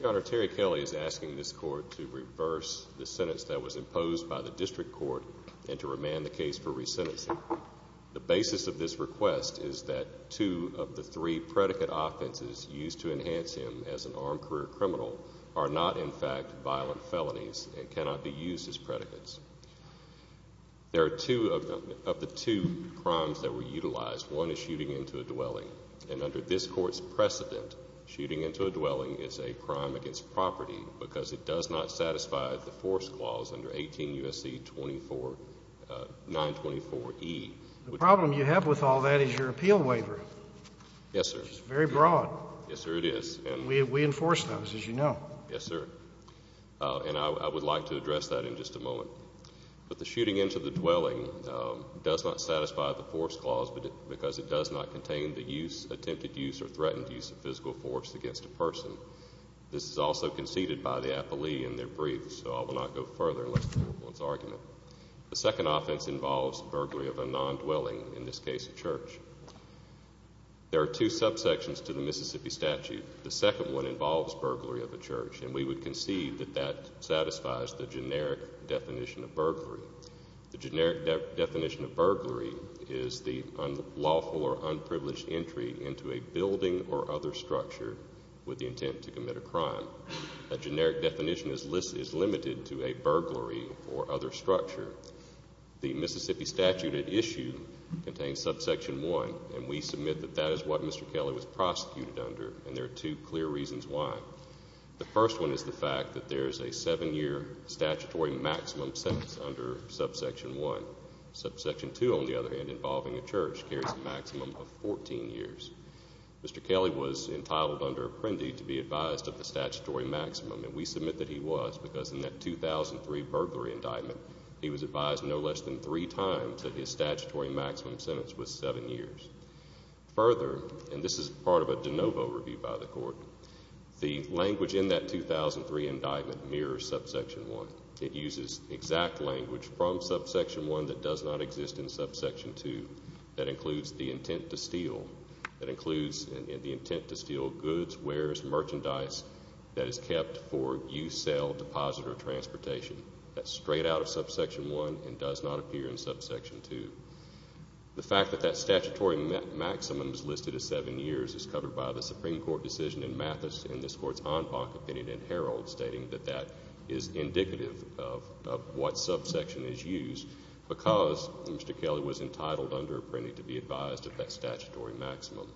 Your Honor, Terry Kelly is asking this Court to reverse the sentence that was imposed by the District Court and to remand the case for resentencing. The basis of this request is that two of the three predicate offenses used to enhance him as an armed career criminal are not, in fact, violent felonies and cannot be used as predicates. There are two of the two crimes that were utilized. One is shooting into a dwelling, and under this Court's precedent, shooting into a dwelling is a crime against property because it does not satisfy the force clause under 18 U.S.C. 924E. The problem you have with all that is your appeal waiver. Yes, sir. It's very broad. Yes, sir. It is. We enforce those, as you know. Yes, sir. And I would like to address that in just a moment. But the shooting into the dwelling does not satisfy the force clause because it does not contain the use, attempted use, or threatened use of physical force against a person. This is also conceded by the appellee in their briefs, so I will not go further unless there is an argument. The second offense involves burglary of a non-dwelling, in this case a church. There are two subsections to the Mississippi statute. The second one involves burglary of a church, and we would concede that that satisfies the generic definition of burglary. The generic definition of burglary is the unlawful or unprivileged entry into a building or other structure with the intent to commit a crime. A generic definition is limited to a burglary or other structure. The Mississippi statute at issue contains subsection 1, and we submit that that is what it is, and there are two clear reasons why. The first one is the fact that there is a seven-year statutory maximum sentence under subsection 1. Subsection 2, on the other hand, involving a church, carries a maximum of 14 years. Mr. Kelly was entitled under Apprendi to be advised of the statutory maximum, and we submit that he was because in that 2003 burglary indictment, he was advised no less than three times that his statutory maximum sentence was seven years. Further, and this is part of a de novo review by the Court, the language in that 2003 indictment mirrors subsection 1. It uses exact language from subsection 1 that does not exist in subsection 2. That includes the intent to steal goods, wares, merchandise that is kept for use, sale, deposit, or transportation. That's straight out of subsection 1 and does not appear in subsection 2. The fact that that statutory maximum is listed as seven years is covered by the Supreme Court decision in Mathis and this Court's en banc opinion in Herald stating that that is indicative of what subsection is used because Mr. Kelly was entitled under Apprendi to be advised of that statutory maximum.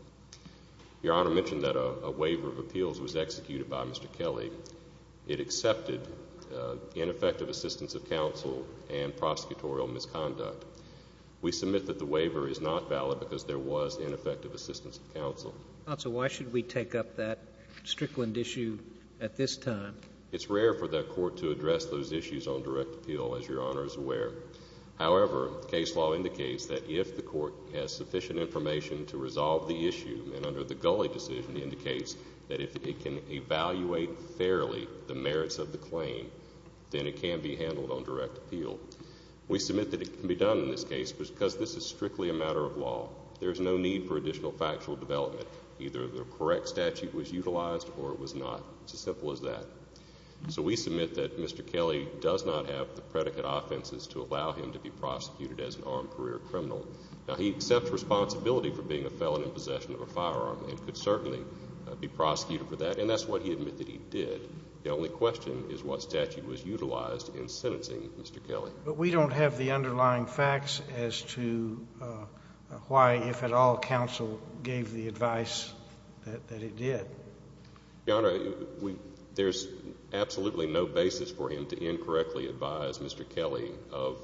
Your Honor mentioned that a waiver of appeals was executed by Mr. Kelly. It accepted ineffective assistance of counsel and prosecutorial misconduct. We submit that the waiver is not valid because there was ineffective assistance of counsel. Counsel, why should we take up that Strickland issue at this time? It's rare for the Court to address those issues on direct appeal, as Your Honor is aware. However, case law indicates that if the Court has sufficient information to resolve the merits of the claim, then it can be handled on direct appeal. We submit that it can be done in this case because this is strictly a matter of law. There is no need for additional factual development. Either the correct statute was utilized or it was not. It's as simple as that. So we submit that Mr. Kelly does not have the predicate offenses to allow him to be prosecuted as an armed career criminal. Now, he accepts responsibility for being a felon in possession of a firearm and could certainly be prosecuted for that, and that's what he admitted he did. The only question is what statute was utilized in sentencing Mr. Kelly. But we don't have the underlying facts as to why, if at all, counsel gave the advice that it did. Your Honor, there's absolutely no basis for him to incorrectly advise Mr. Kelly of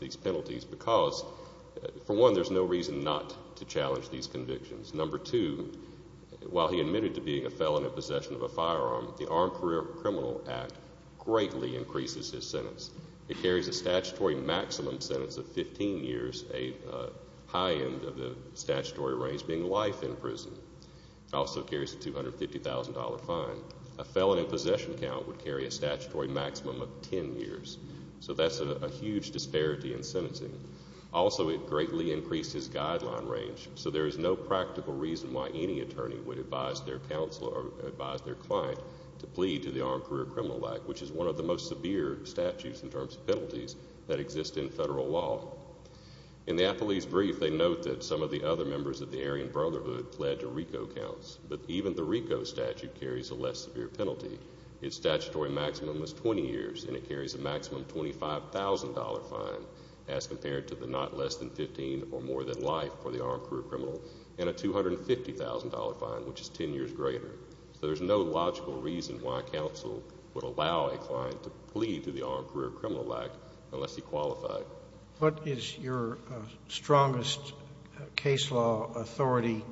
these penalties because, for one, there's no reason not to challenge these convictions. Number two, while he admitted to being a felon in possession of a firearm, the Armed Career Criminal Act greatly increases his sentence. It carries a statutory maximum sentence of 15 years, a high end of the statutory range being life in prison. It also carries a $250,000 fine. A felon in possession count would carry a statutory maximum of 10 years. So that's a huge disparity in sentencing. Also, it greatly increases guideline range. So there is no practical reason why any attorney would advise their counselor or advise their client to plead to the Armed Career Criminal Act, which is one of the most severe statutes in terms of penalties that exist in federal law. In the Appleby's brief, they note that some of the other members of the Aryan Brotherhood pled to RICO counts, but even the RICO statute carries a less severe penalty. Its statutory maximum is 20 years, and it carries a maximum $25,000 fine, as compared to the not less than 15 or more than life for the armed career criminal, and a $250,000 fine, which is 10 years greater. So there's no logical reason why counsel would allow a client to plead to the Armed Career Criminal Act unless he qualified. What is your strongest case law authority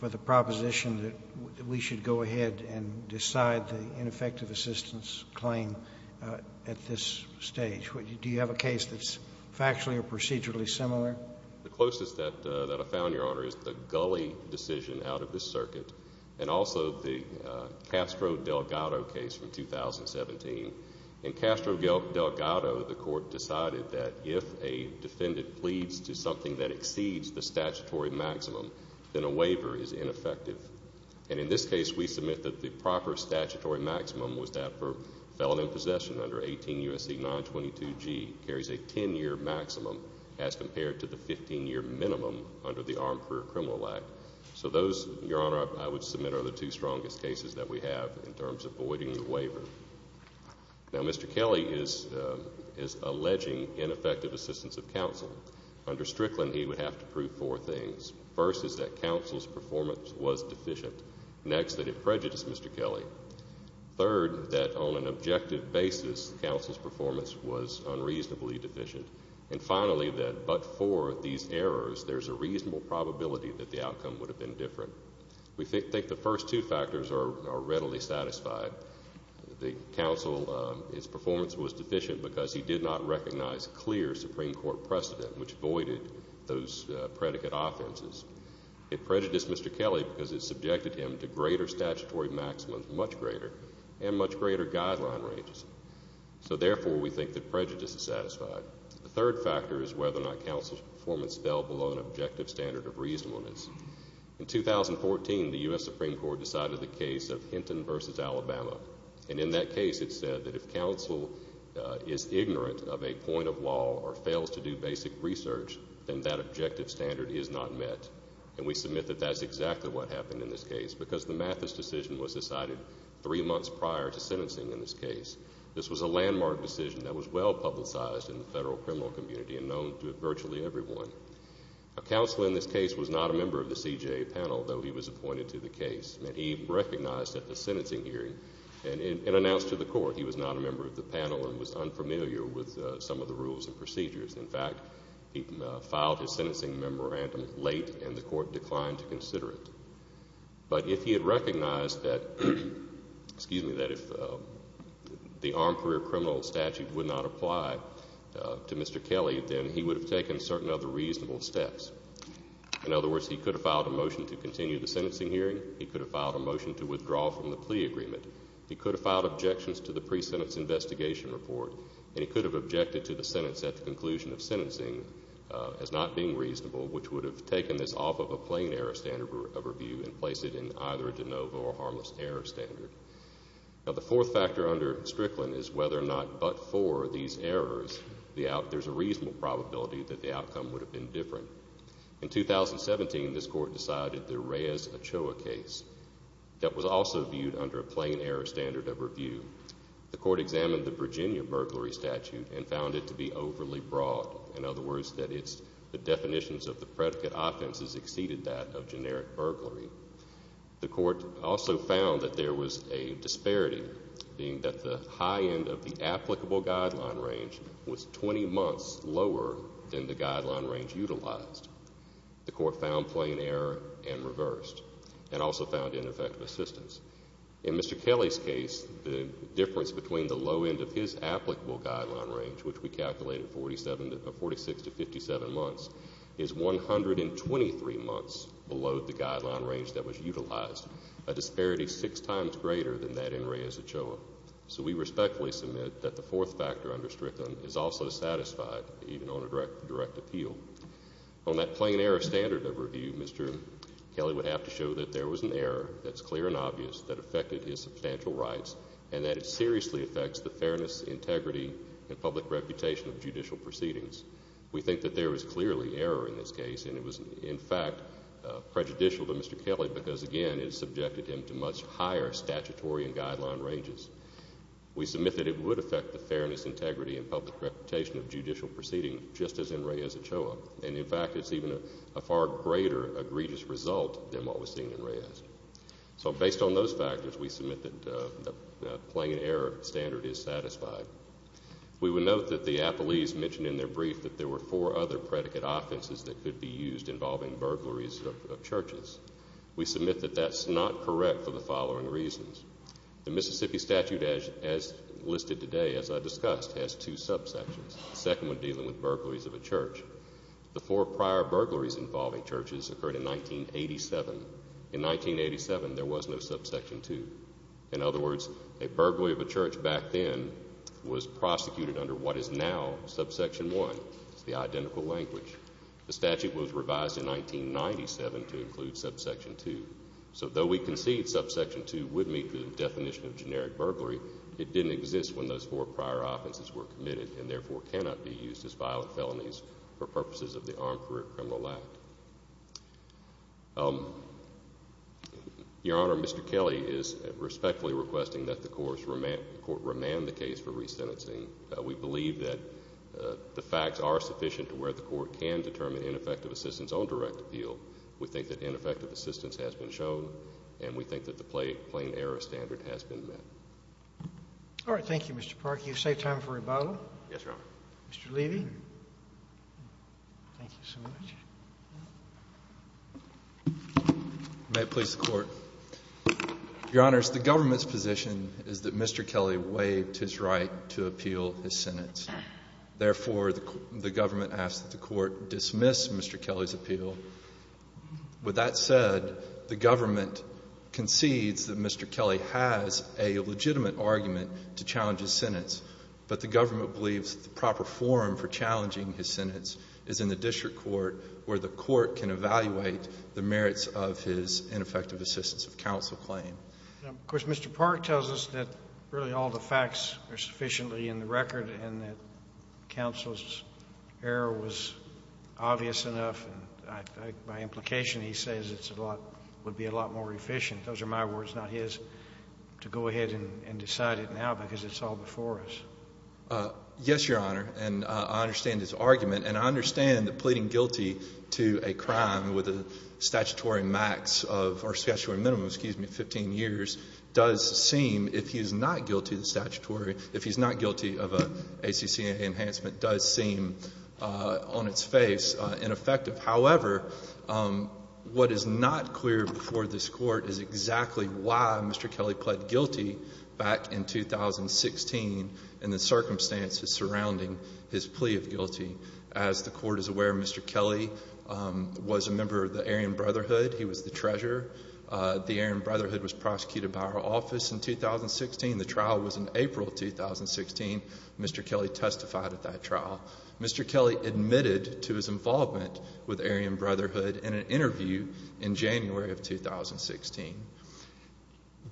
for the proposition that we should go ahead and decide the ineffective assistance claim at this stage? Do you have a case that's factually or procedurally similar? The closest that I've found, Your Honor, is the Gulley decision out of this circuit and also the Castro-Delgado case from 2017. In Castro-Delgado, the court decided that if a defendant pleads to something that exceeds the statutory maximum, then a waiver is ineffective. And in this case, we submit that the proper statutory maximum was that for felon in possession under 18 U.S.C. 922G carries a 10-year maximum as compared to the 15-year minimum under the Armed Career Criminal Act. So those, Your Honor, I would submit are the two strongest cases that we have in terms of voiding the waiver. Now, Mr. Kelly is alleging ineffective assistance of counsel. Under Strickland, he would have to prove four things. First is that counsel's performance was deficient. Next, that it prejudiced Mr. Kelly. Third, that on an objective basis, counsel's performance was unreasonably deficient. And finally, that but for these errors, there's a reasonable probability that the outcome would have been different. We think the first two factors are readily satisfied. The counsel, his performance was deficient because he did not recognize clear Supreme Court precedent, which voided those predicate offenses. It prejudiced Mr. Kelly because it subjected him to greater statutory maximums, much greater, and much greater guideline ranges. So therefore, we think that prejudice is satisfied. The third factor is whether or not counsel's performance fell below an objective standard of reasonableness. In 2014, the U.S. Supreme Court decided the case of Hinton v. Alabama. And in that case, it said that if counsel is ignorant of a point of law or fails to do basic research, then that objective standard is not met. And we submit that that's exactly what happened in this case because the Mathis decision was decided three months prior to sentencing in this case. This was a landmark decision that was well-publicized in the federal criminal community and known to virtually everyone. Counsel in this case was not a member of the CJA panel, though he was appointed to the case. He recognized at the sentencing hearing and announced to the court he was not a member of the panel and was unfamiliar with some of the rules and procedures. In fact, he filed his sentencing memorandum late and the court declined to consider it. But if he had recognized that if the armed career criminal statute would not apply to Mr. Kelly, then he would have taken certain other reasonable steps. In other words, he could have filed a motion to continue the sentencing hearing. He could have filed a motion to withdraw from the plea agreement. He could have filed objections to the pre-sentence investigation report. And he could have objected to the sentence at the conclusion of sentencing as not being reasonable, which would have taken this off of a plain error standard of review and placed it in either a de novo or harmless error standard. Now, the fourth factor under Strickland is whether or not but for these errors, there's a reasonable probability that the outcome would have been different. In 2017, this court decided the Reyes-Ochoa case. That was also viewed under a plain error standard of review. The court examined the Virginia burglary statute and found it to be overly broad. In other words, that it's the definitions of the predicate offenses exceeded that of generic burglary. The court also found that there was a disparity, being that the high end of the applicable guideline range was 20 months lower than the guideline range utilized. The court found plain error and reversed, and also found ineffective assistance. In Mr. Kelly's case, the difference between the low end of his applicable guideline range, which we calculated 46 to 57 months, is 123 months below the guideline range that was utilized, a disparity six times greater than that in Reyes-Ochoa. So we respectfully submit that the fourth factor under Strickland is also satisfied, even on a direct appeal. On that plain error standard of review, Mr. Kelly would have to show that there was an error that's clear and obvious that affected his substantial rights, and that it seriously affects the fairness, integrity, and public reputation of judicial proceedings. We think that there is clearly error in this case, and it was, in fact, prejudicial to Mr. Kelly because, again, it subjected him to much higher statutory and guideline ranges. We submit that it would affect the fairness, integrity, and public reputation of judicial proceedings, just as in Reyes-Ochoa. And, in fact, it's even a far greater egregious result than what was seen in Reyes. So based on those factors, we submit that the plain error standard is satisfied. We would note that the appellees mentioned in their brief that there were four other predicate offenses that could be used involving burglaries of churches. We submit that that's not correct for the following reasons. The Mississippi statute as listed today, as I discussed, has two subsections, the second one dealing with burglaries of a church. The four prior burglaries involving churches occurred in 1987. In 1987, there was no subsection 2. In other words, a burglary of a church back then was prosecuted under what is now subsection 1. It's the identical language. The statute was revised in 1997 to include subsection 2. So though we concede subsection 2 would meet the definition of generic burglary, it didn't exist when those four prior offenses were committed and therefore cannot be used as violent felonies for purposes of the Armed Career Criminal Act. Your Honor, Mr. Kelly is respectfully requesting that the court remand the case for resentencing. We believe that the facts are sufficient to where the court can determine ineffective assistance on direct appeal. We think that ineffective assistance has been shown, and we think that the plain error standard has been met. All right. Thank you, Mr. Park. You've saved time for rebuttal. Yes, Your Honor. Mr. Levy. Thank you so much. May it please the Court. Your Honors, the government's position is that Mr. Kelly waived his right to appeal his sentence. Therefore, the government asks that the court dismiss Mr. Kelly's appeal. With that said, the government concedes that Mr. Kelly has a legitimate argument to challenge his sentence, but the government believes the proper forum for challenging his sentence is in the district court, where the court can evaluate the merits of his ineffective assistance of counsel claim. Of course, Mr. Park tells us that really all the facts are sufficiently in the record and that counsel's error was obvious enough. By implication, he says it would be a lot more efficient. Those are my words, not his, to go ahead and decide it now because it's all before us. Yes, Your Honor, and I understand his argument, and I understand that pleading guilty to a crime with a statutory max of, or statutory minimum, excuse me, 15 years, does seem, if he's not guilty of the statutory, if he's not guilty of an ACC enhancement, does seem on its face ineffective. However, what is not clear before this Court is exactly why Mr. Kelly pled guilty back in 2016 and the circumstances surrounding his plea of guilty. As the Court is aware, Mr. Kelly was a member of the Aryan Brotherhood. He was the treasurer. The Aryan Brotherhood was prosecuted by our office in 2016. The trial was in April of 2016. Mr. Kelly testified at that trial. Mr. Kelly admitted to his involvement with the Aryan Brotherhood in an interview in January of 2016.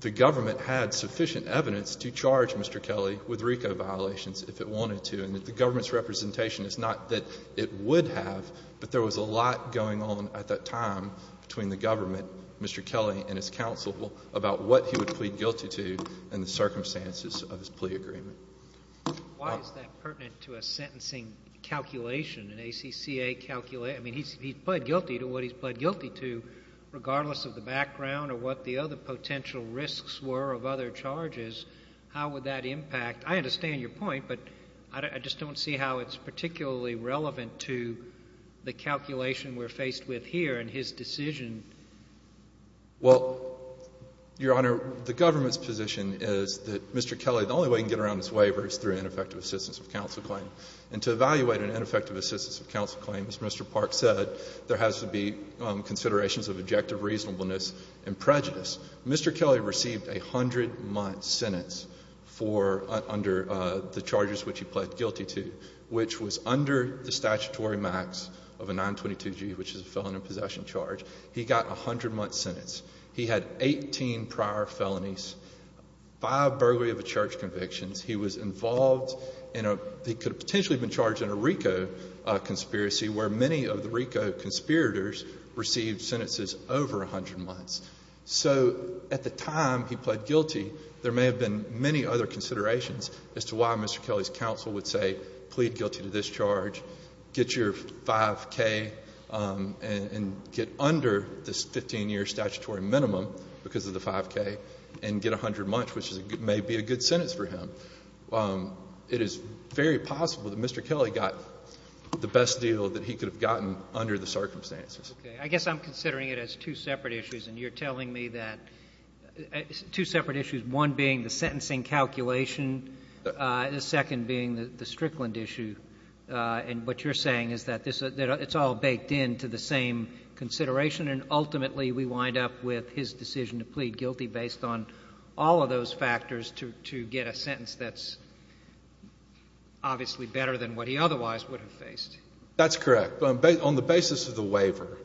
The government had sufficient evidence to charge Mr. Kelly with RICO violations if it wanted to, and the government's representation is not that it would have, but there was a lot going on at that time between the government, Mr. Kelly, and his counsel about what he would plead guilty to and the circumstances of his plea agreement. Why is that pertinent to a sentencing calculation, an ACCA calculation? I mean, he's pled guilty to what he's pled guilty to regardless of the background or what the other potential risks were of other charges. How would that impact? I understand your point, but I just don't see how it's particularly relevant to the calculation we're faced with here and his decision. Well, Your Honor, the government's position is that Mr. Kelly, the only way he can get around his waiver is through ineffective assistance of counsel claim. And to evaluate an ineffective assistance of counsel claim, as Mr. Park said, there has to be considerations of objective reasonableness and prejudice. Mr. Kelly received a 100-month sentence for under the charges which he pled guilty to, which was under the statutory max of a 922G, which is a felon in possession charge. He got a 100-month sentence. He had 18 prior felonies, five burglary of the church convictions. He was involved in a – he could have potentially been charged in a RICO conspiracy where many of the RICO conspirators received sentences over 100 months. So at the time he pled guilty, there may have been many other considerations as to why Mr. Kelly's counsel would say plead guilty to this charge, get your 5K and get under this 15-year statutory minimum because of the 5K and get 100 months, which may be a good sentence for him. It is very possible that Mr. Kelly got the best deal that he could have gotten under the circumstances. Okay. I guess I'm considering it as two separate issues, and you're telling me that two separate issues, one being the sentencing calculation, the second being the Strickland issue. And what you're saying is that it's all baked into the same consideration, and ultimately we wind up with his decision to plead guilty based on all of those factors to get a sentence that's obviously better than what he otherwise would have faced. That's correct. On the basis of the waiver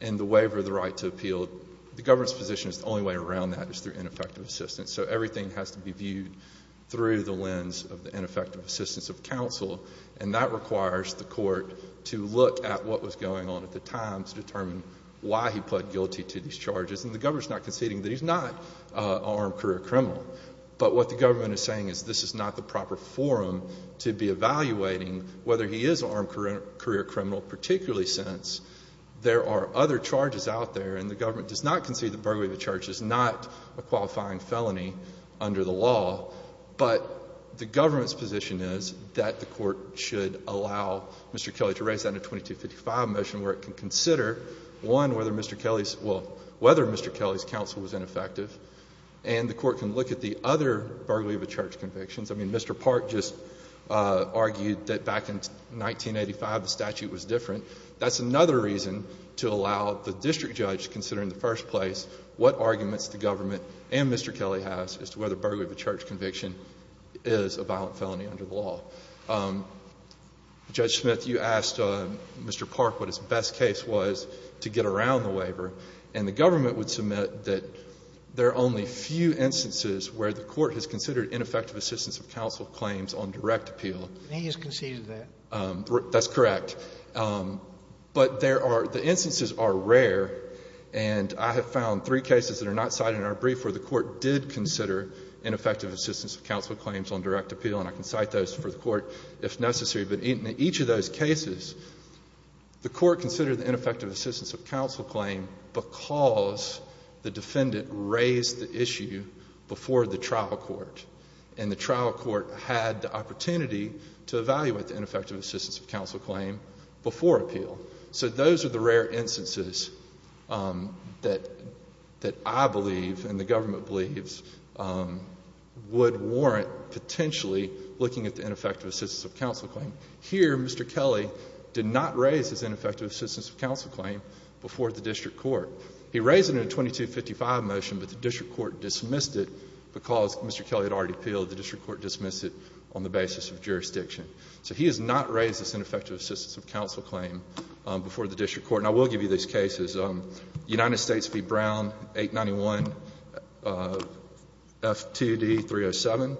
and the waiver of the right to appeal, the government's position is the only way around that is through ineffective assistance. So everything has to be viewed through the lens of the ineffective assistance of counsel, and that requires the court to look at what was going on at the time to determine why he pled guilty to these charges. And the government's not conceding that he's not an armed career criminal. But what the government is saying is this is not the proper forum to be evaluating whether he is an armed career criminal, particularly since there are other charges out there and the government does not concede that burglary of the church is not a qualifying felony under the law. But the government's position is that the court should allow Mr. Kelly to raise that in a 2255 motion where it can consider, one, whether Mr. Kelly's — well, whether Mr. Kelly's counsel was ineffective, and the court can look at the other burglary of the church convictions. I mean, Mr. Park just argued that back in 1985 the statute was different. That's another reason to allow the district judge to consider in the first place what arguments the government and Mr. Kelly has as to whether burglary of the church conviction is a violent felony under the law. Judge Smith, you asked Mr. Park what his best case was to get around the waiver, and the government would submit that there are only few instances where the court has considered ineffective assistance of counsel claims on direct appeal. And he has conceded that. That's correct. But there are — the instances are rare, and I have found three cases that are not cited in our brief where the court did consider ineffective assistance of counsel claims on direct appeal, and I can cite those for the court if necessary. But in each of those cases, the court considered the ineffective assistance of counsel claim because the defendant raised the issue before the trial court, and the trial court had the opportunity to evaluate the ineffective assistance of counsel claim before appeal. So those are the rare instances that I believe and the government believes would warrant potentially looking at the ineffective assistance of counsel claim. Here, Mr. Kelly did not raise his ineffective assistance of counsel claim before the district court. He raised it in a 2255 motion, but the district court dismissed it because Mr. Kelly had already appealed. The district court dismissed it on the basis of jurisdiction. So he has not raised this ineffective assistance of counsel claim before the district court. And I will give you these cases. United States v. Brown, 891, F2D 307.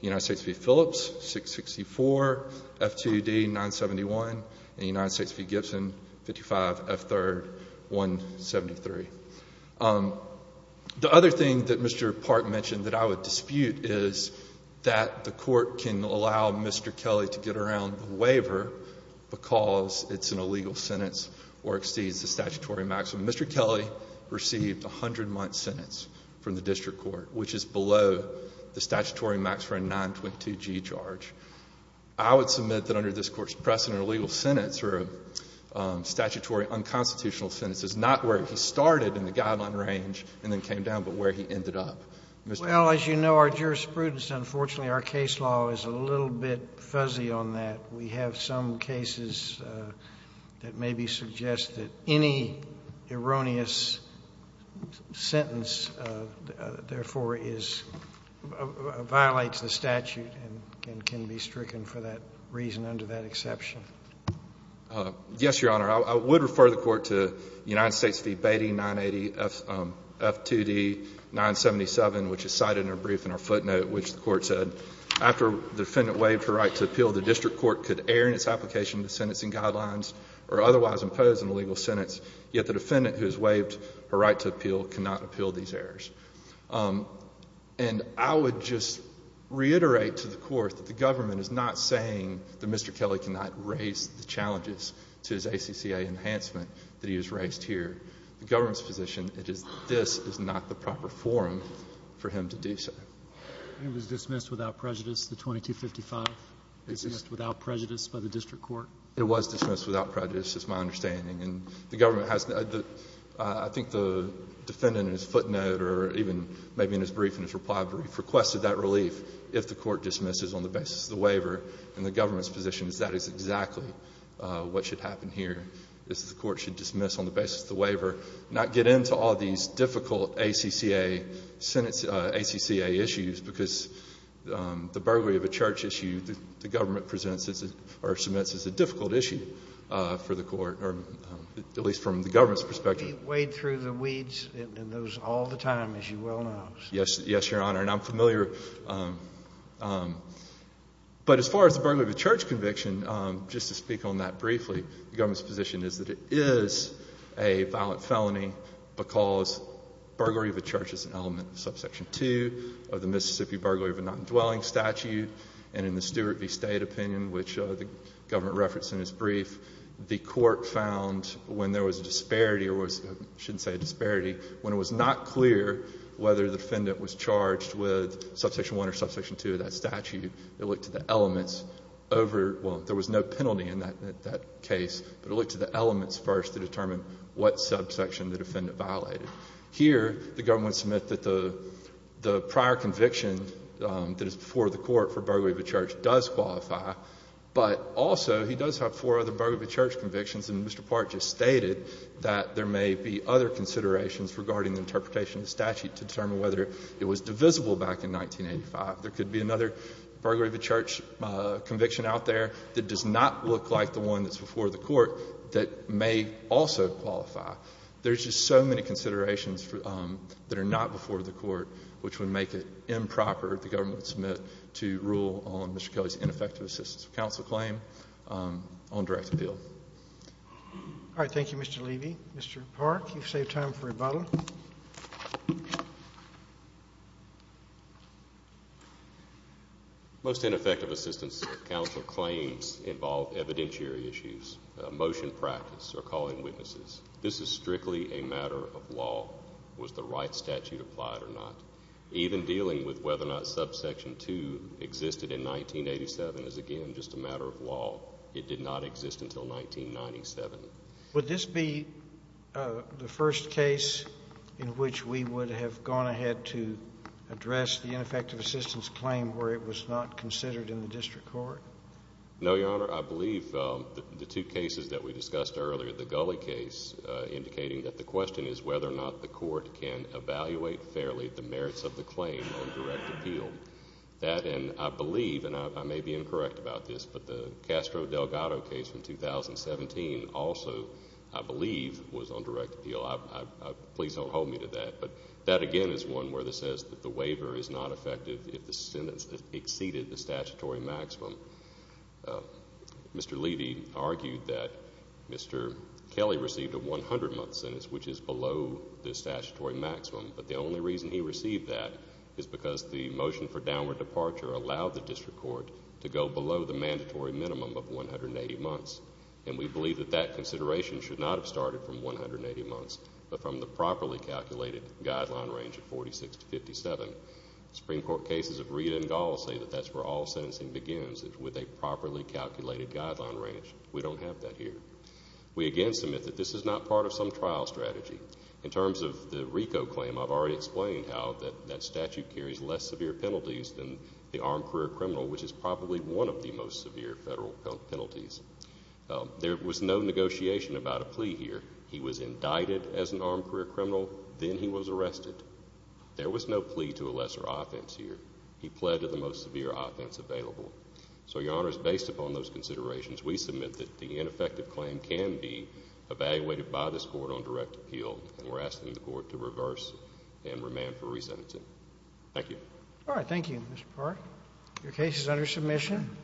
United States v. Phillips, 664, F2D 971. And United States v. Gibson, 55, F3rd, 173. The other thing that Mr. Park mentioned that I would dispute is that the court can allow Mr. Kelly to get around the waiver because it's an illegal sentence or exceeds the statutory maximum. Mr. Kelly received a 100-month sentence from the district court, which is below the statutory maximum 922g charge. I would submit that under this Court's precedent, a legal sentence or a statutory unconstitutional sentence is not where he started in the guideline range and then came down, but where he ended up. Well, as you know, our jurisprudence, unfortunately, our case law is a little bit fuzzy on that. We have some cases that maybe suggest that any erroneous sentence, therefore, violates the statute and can be stricken for that reason under that exception. Yes, Your Honor. I would refer the Court to United States v. Beatty, 980, F2D 977, which is cited in our brief and our footnote, which the Court said, After the defendant waived her right to appeal, the district court could err in its application to sentencing guidelines or otherwise impose an illegal sentence. Yet the defendant who has waived her right to appeal cannot appeal these errors. And I would just reiterate to the Court that the government is not saying that Mr. Kelly cannot raise the challenges to his ACCA enhancement that he has raised here. The government's position is that this is not the proper forum for him to do so. He was dismissed without prejudice, the 2255? He was dismissed without prejudice by the district court? It was dismissed without prejudice, is my understanding. And the government has, I think the defendant in his footnote or even maybe in his brief, in his reply brief, requested that relief if the Court dismisses on the basis of the waiver. And the government's position is that is exactly what should happen here, is the Court should dismiss on the basis of the waiver, not get into all these difficult ACCA issues, because the burglary of a church issue, the government presents or submits as a difficult issue for the Court, or at least from the government's perspective. He wade through the weeds in those all the time, as you well know. Yes. Yes, Your Honor. And I'm familiar. But as far as the burglary of a church conviction, just to speak on that briefly, the government's position is that it is a violent felony because burglary of a church is an element of subsection 2 of the Mississippi burglary of a non-dwelling statute. And in the Stewart v. State opinion, which the government referenced in his brief, the Court found when there was a disparity or was, I shouldn't say a disparity, when it was not clear whether the defendant was charged with subsection 1 or subsection 2 of that statute, it looked at the elements over, well, there was no penalty in that case, but it looked at the elements first to determine what subsection the defendant violated. Here, the government would submit that the prior conviction that is before the Court for burglary of a church does qualify, but also he does have four other burglary of a church convictions, and Mr. Part just stated that there may be other considerations regarding the interpretation of the statute to determine whether it was divisible back in 1985. There could be another burglary of a church conviction out there that does not look like the one that's before the Court that may also qualify. There's just so many considerations that are not before the Court which would make it improper, the government would submit, to rule on Mr. Kelly's ineffective assistance of counsel claim on direct appeal. All right. Thank you, Mr. Levy. Mr. Park, you've saved time for rebuttal. Most ineffective assistance of counsel claims involve evidentiary issues, motion practice, or calling witnesses. This is strictly a matter of law. Was the right statute applied or not? Even dealing with whether or not subsection 2 existed in 1987 is, again, just a matter of law. It did not exist until 1997. Would this be the first case in which we would have gone ahead to address the ineffective assistance claim where it was not considered in the district court? No, Your Honor. I believe the two cases that we discussed earlier, the Gully case indicating that the question is whether or not the Court can evaluate fairly the merits of the claim on direct appeal. That, and I believe, and I may be incorrect about this, but the Castro Delgado case in 2017 also, I believe, was on direct appeal. Please don't hold me to that. But that, again, is one where it says that the waiver is not effective if the Mr. Levy argued that Mr. Kelly received a 100-month sentence, which is below the statutory maximum. But the only reason he received that is because the motion for downward departure allowed the district court to go below the mandatory minimum of 180 months. And we believe that that consideration should not have started from 180 months but from the properly calculated guideline range of 46 to 57. Supreme Court cases of Rita and Gall say that that's where all sentencing begins, with a properly calculated guideline range. We don't have that here. We, again, submit that this is not part of some trial strategy. In terms of the RICO claim, I've already explained how that statute carries less severe penalties than the armed career criminal, which is probably one of the most severe federal penalties. There was no negotiation about a plea here. He was indicted as an armed career criminal. Then he was arrested. There was no plea to a lesser offense here. He pled to the most severe offense available. So, Your Honors, based upon those considerations, we submit that the ineffective claim can be evaluated by this court on direct appeal. And we're asking the court to reverse and remand for resentencing. Thank you. All right. Thank you, Mr. Park. Your case is under submission.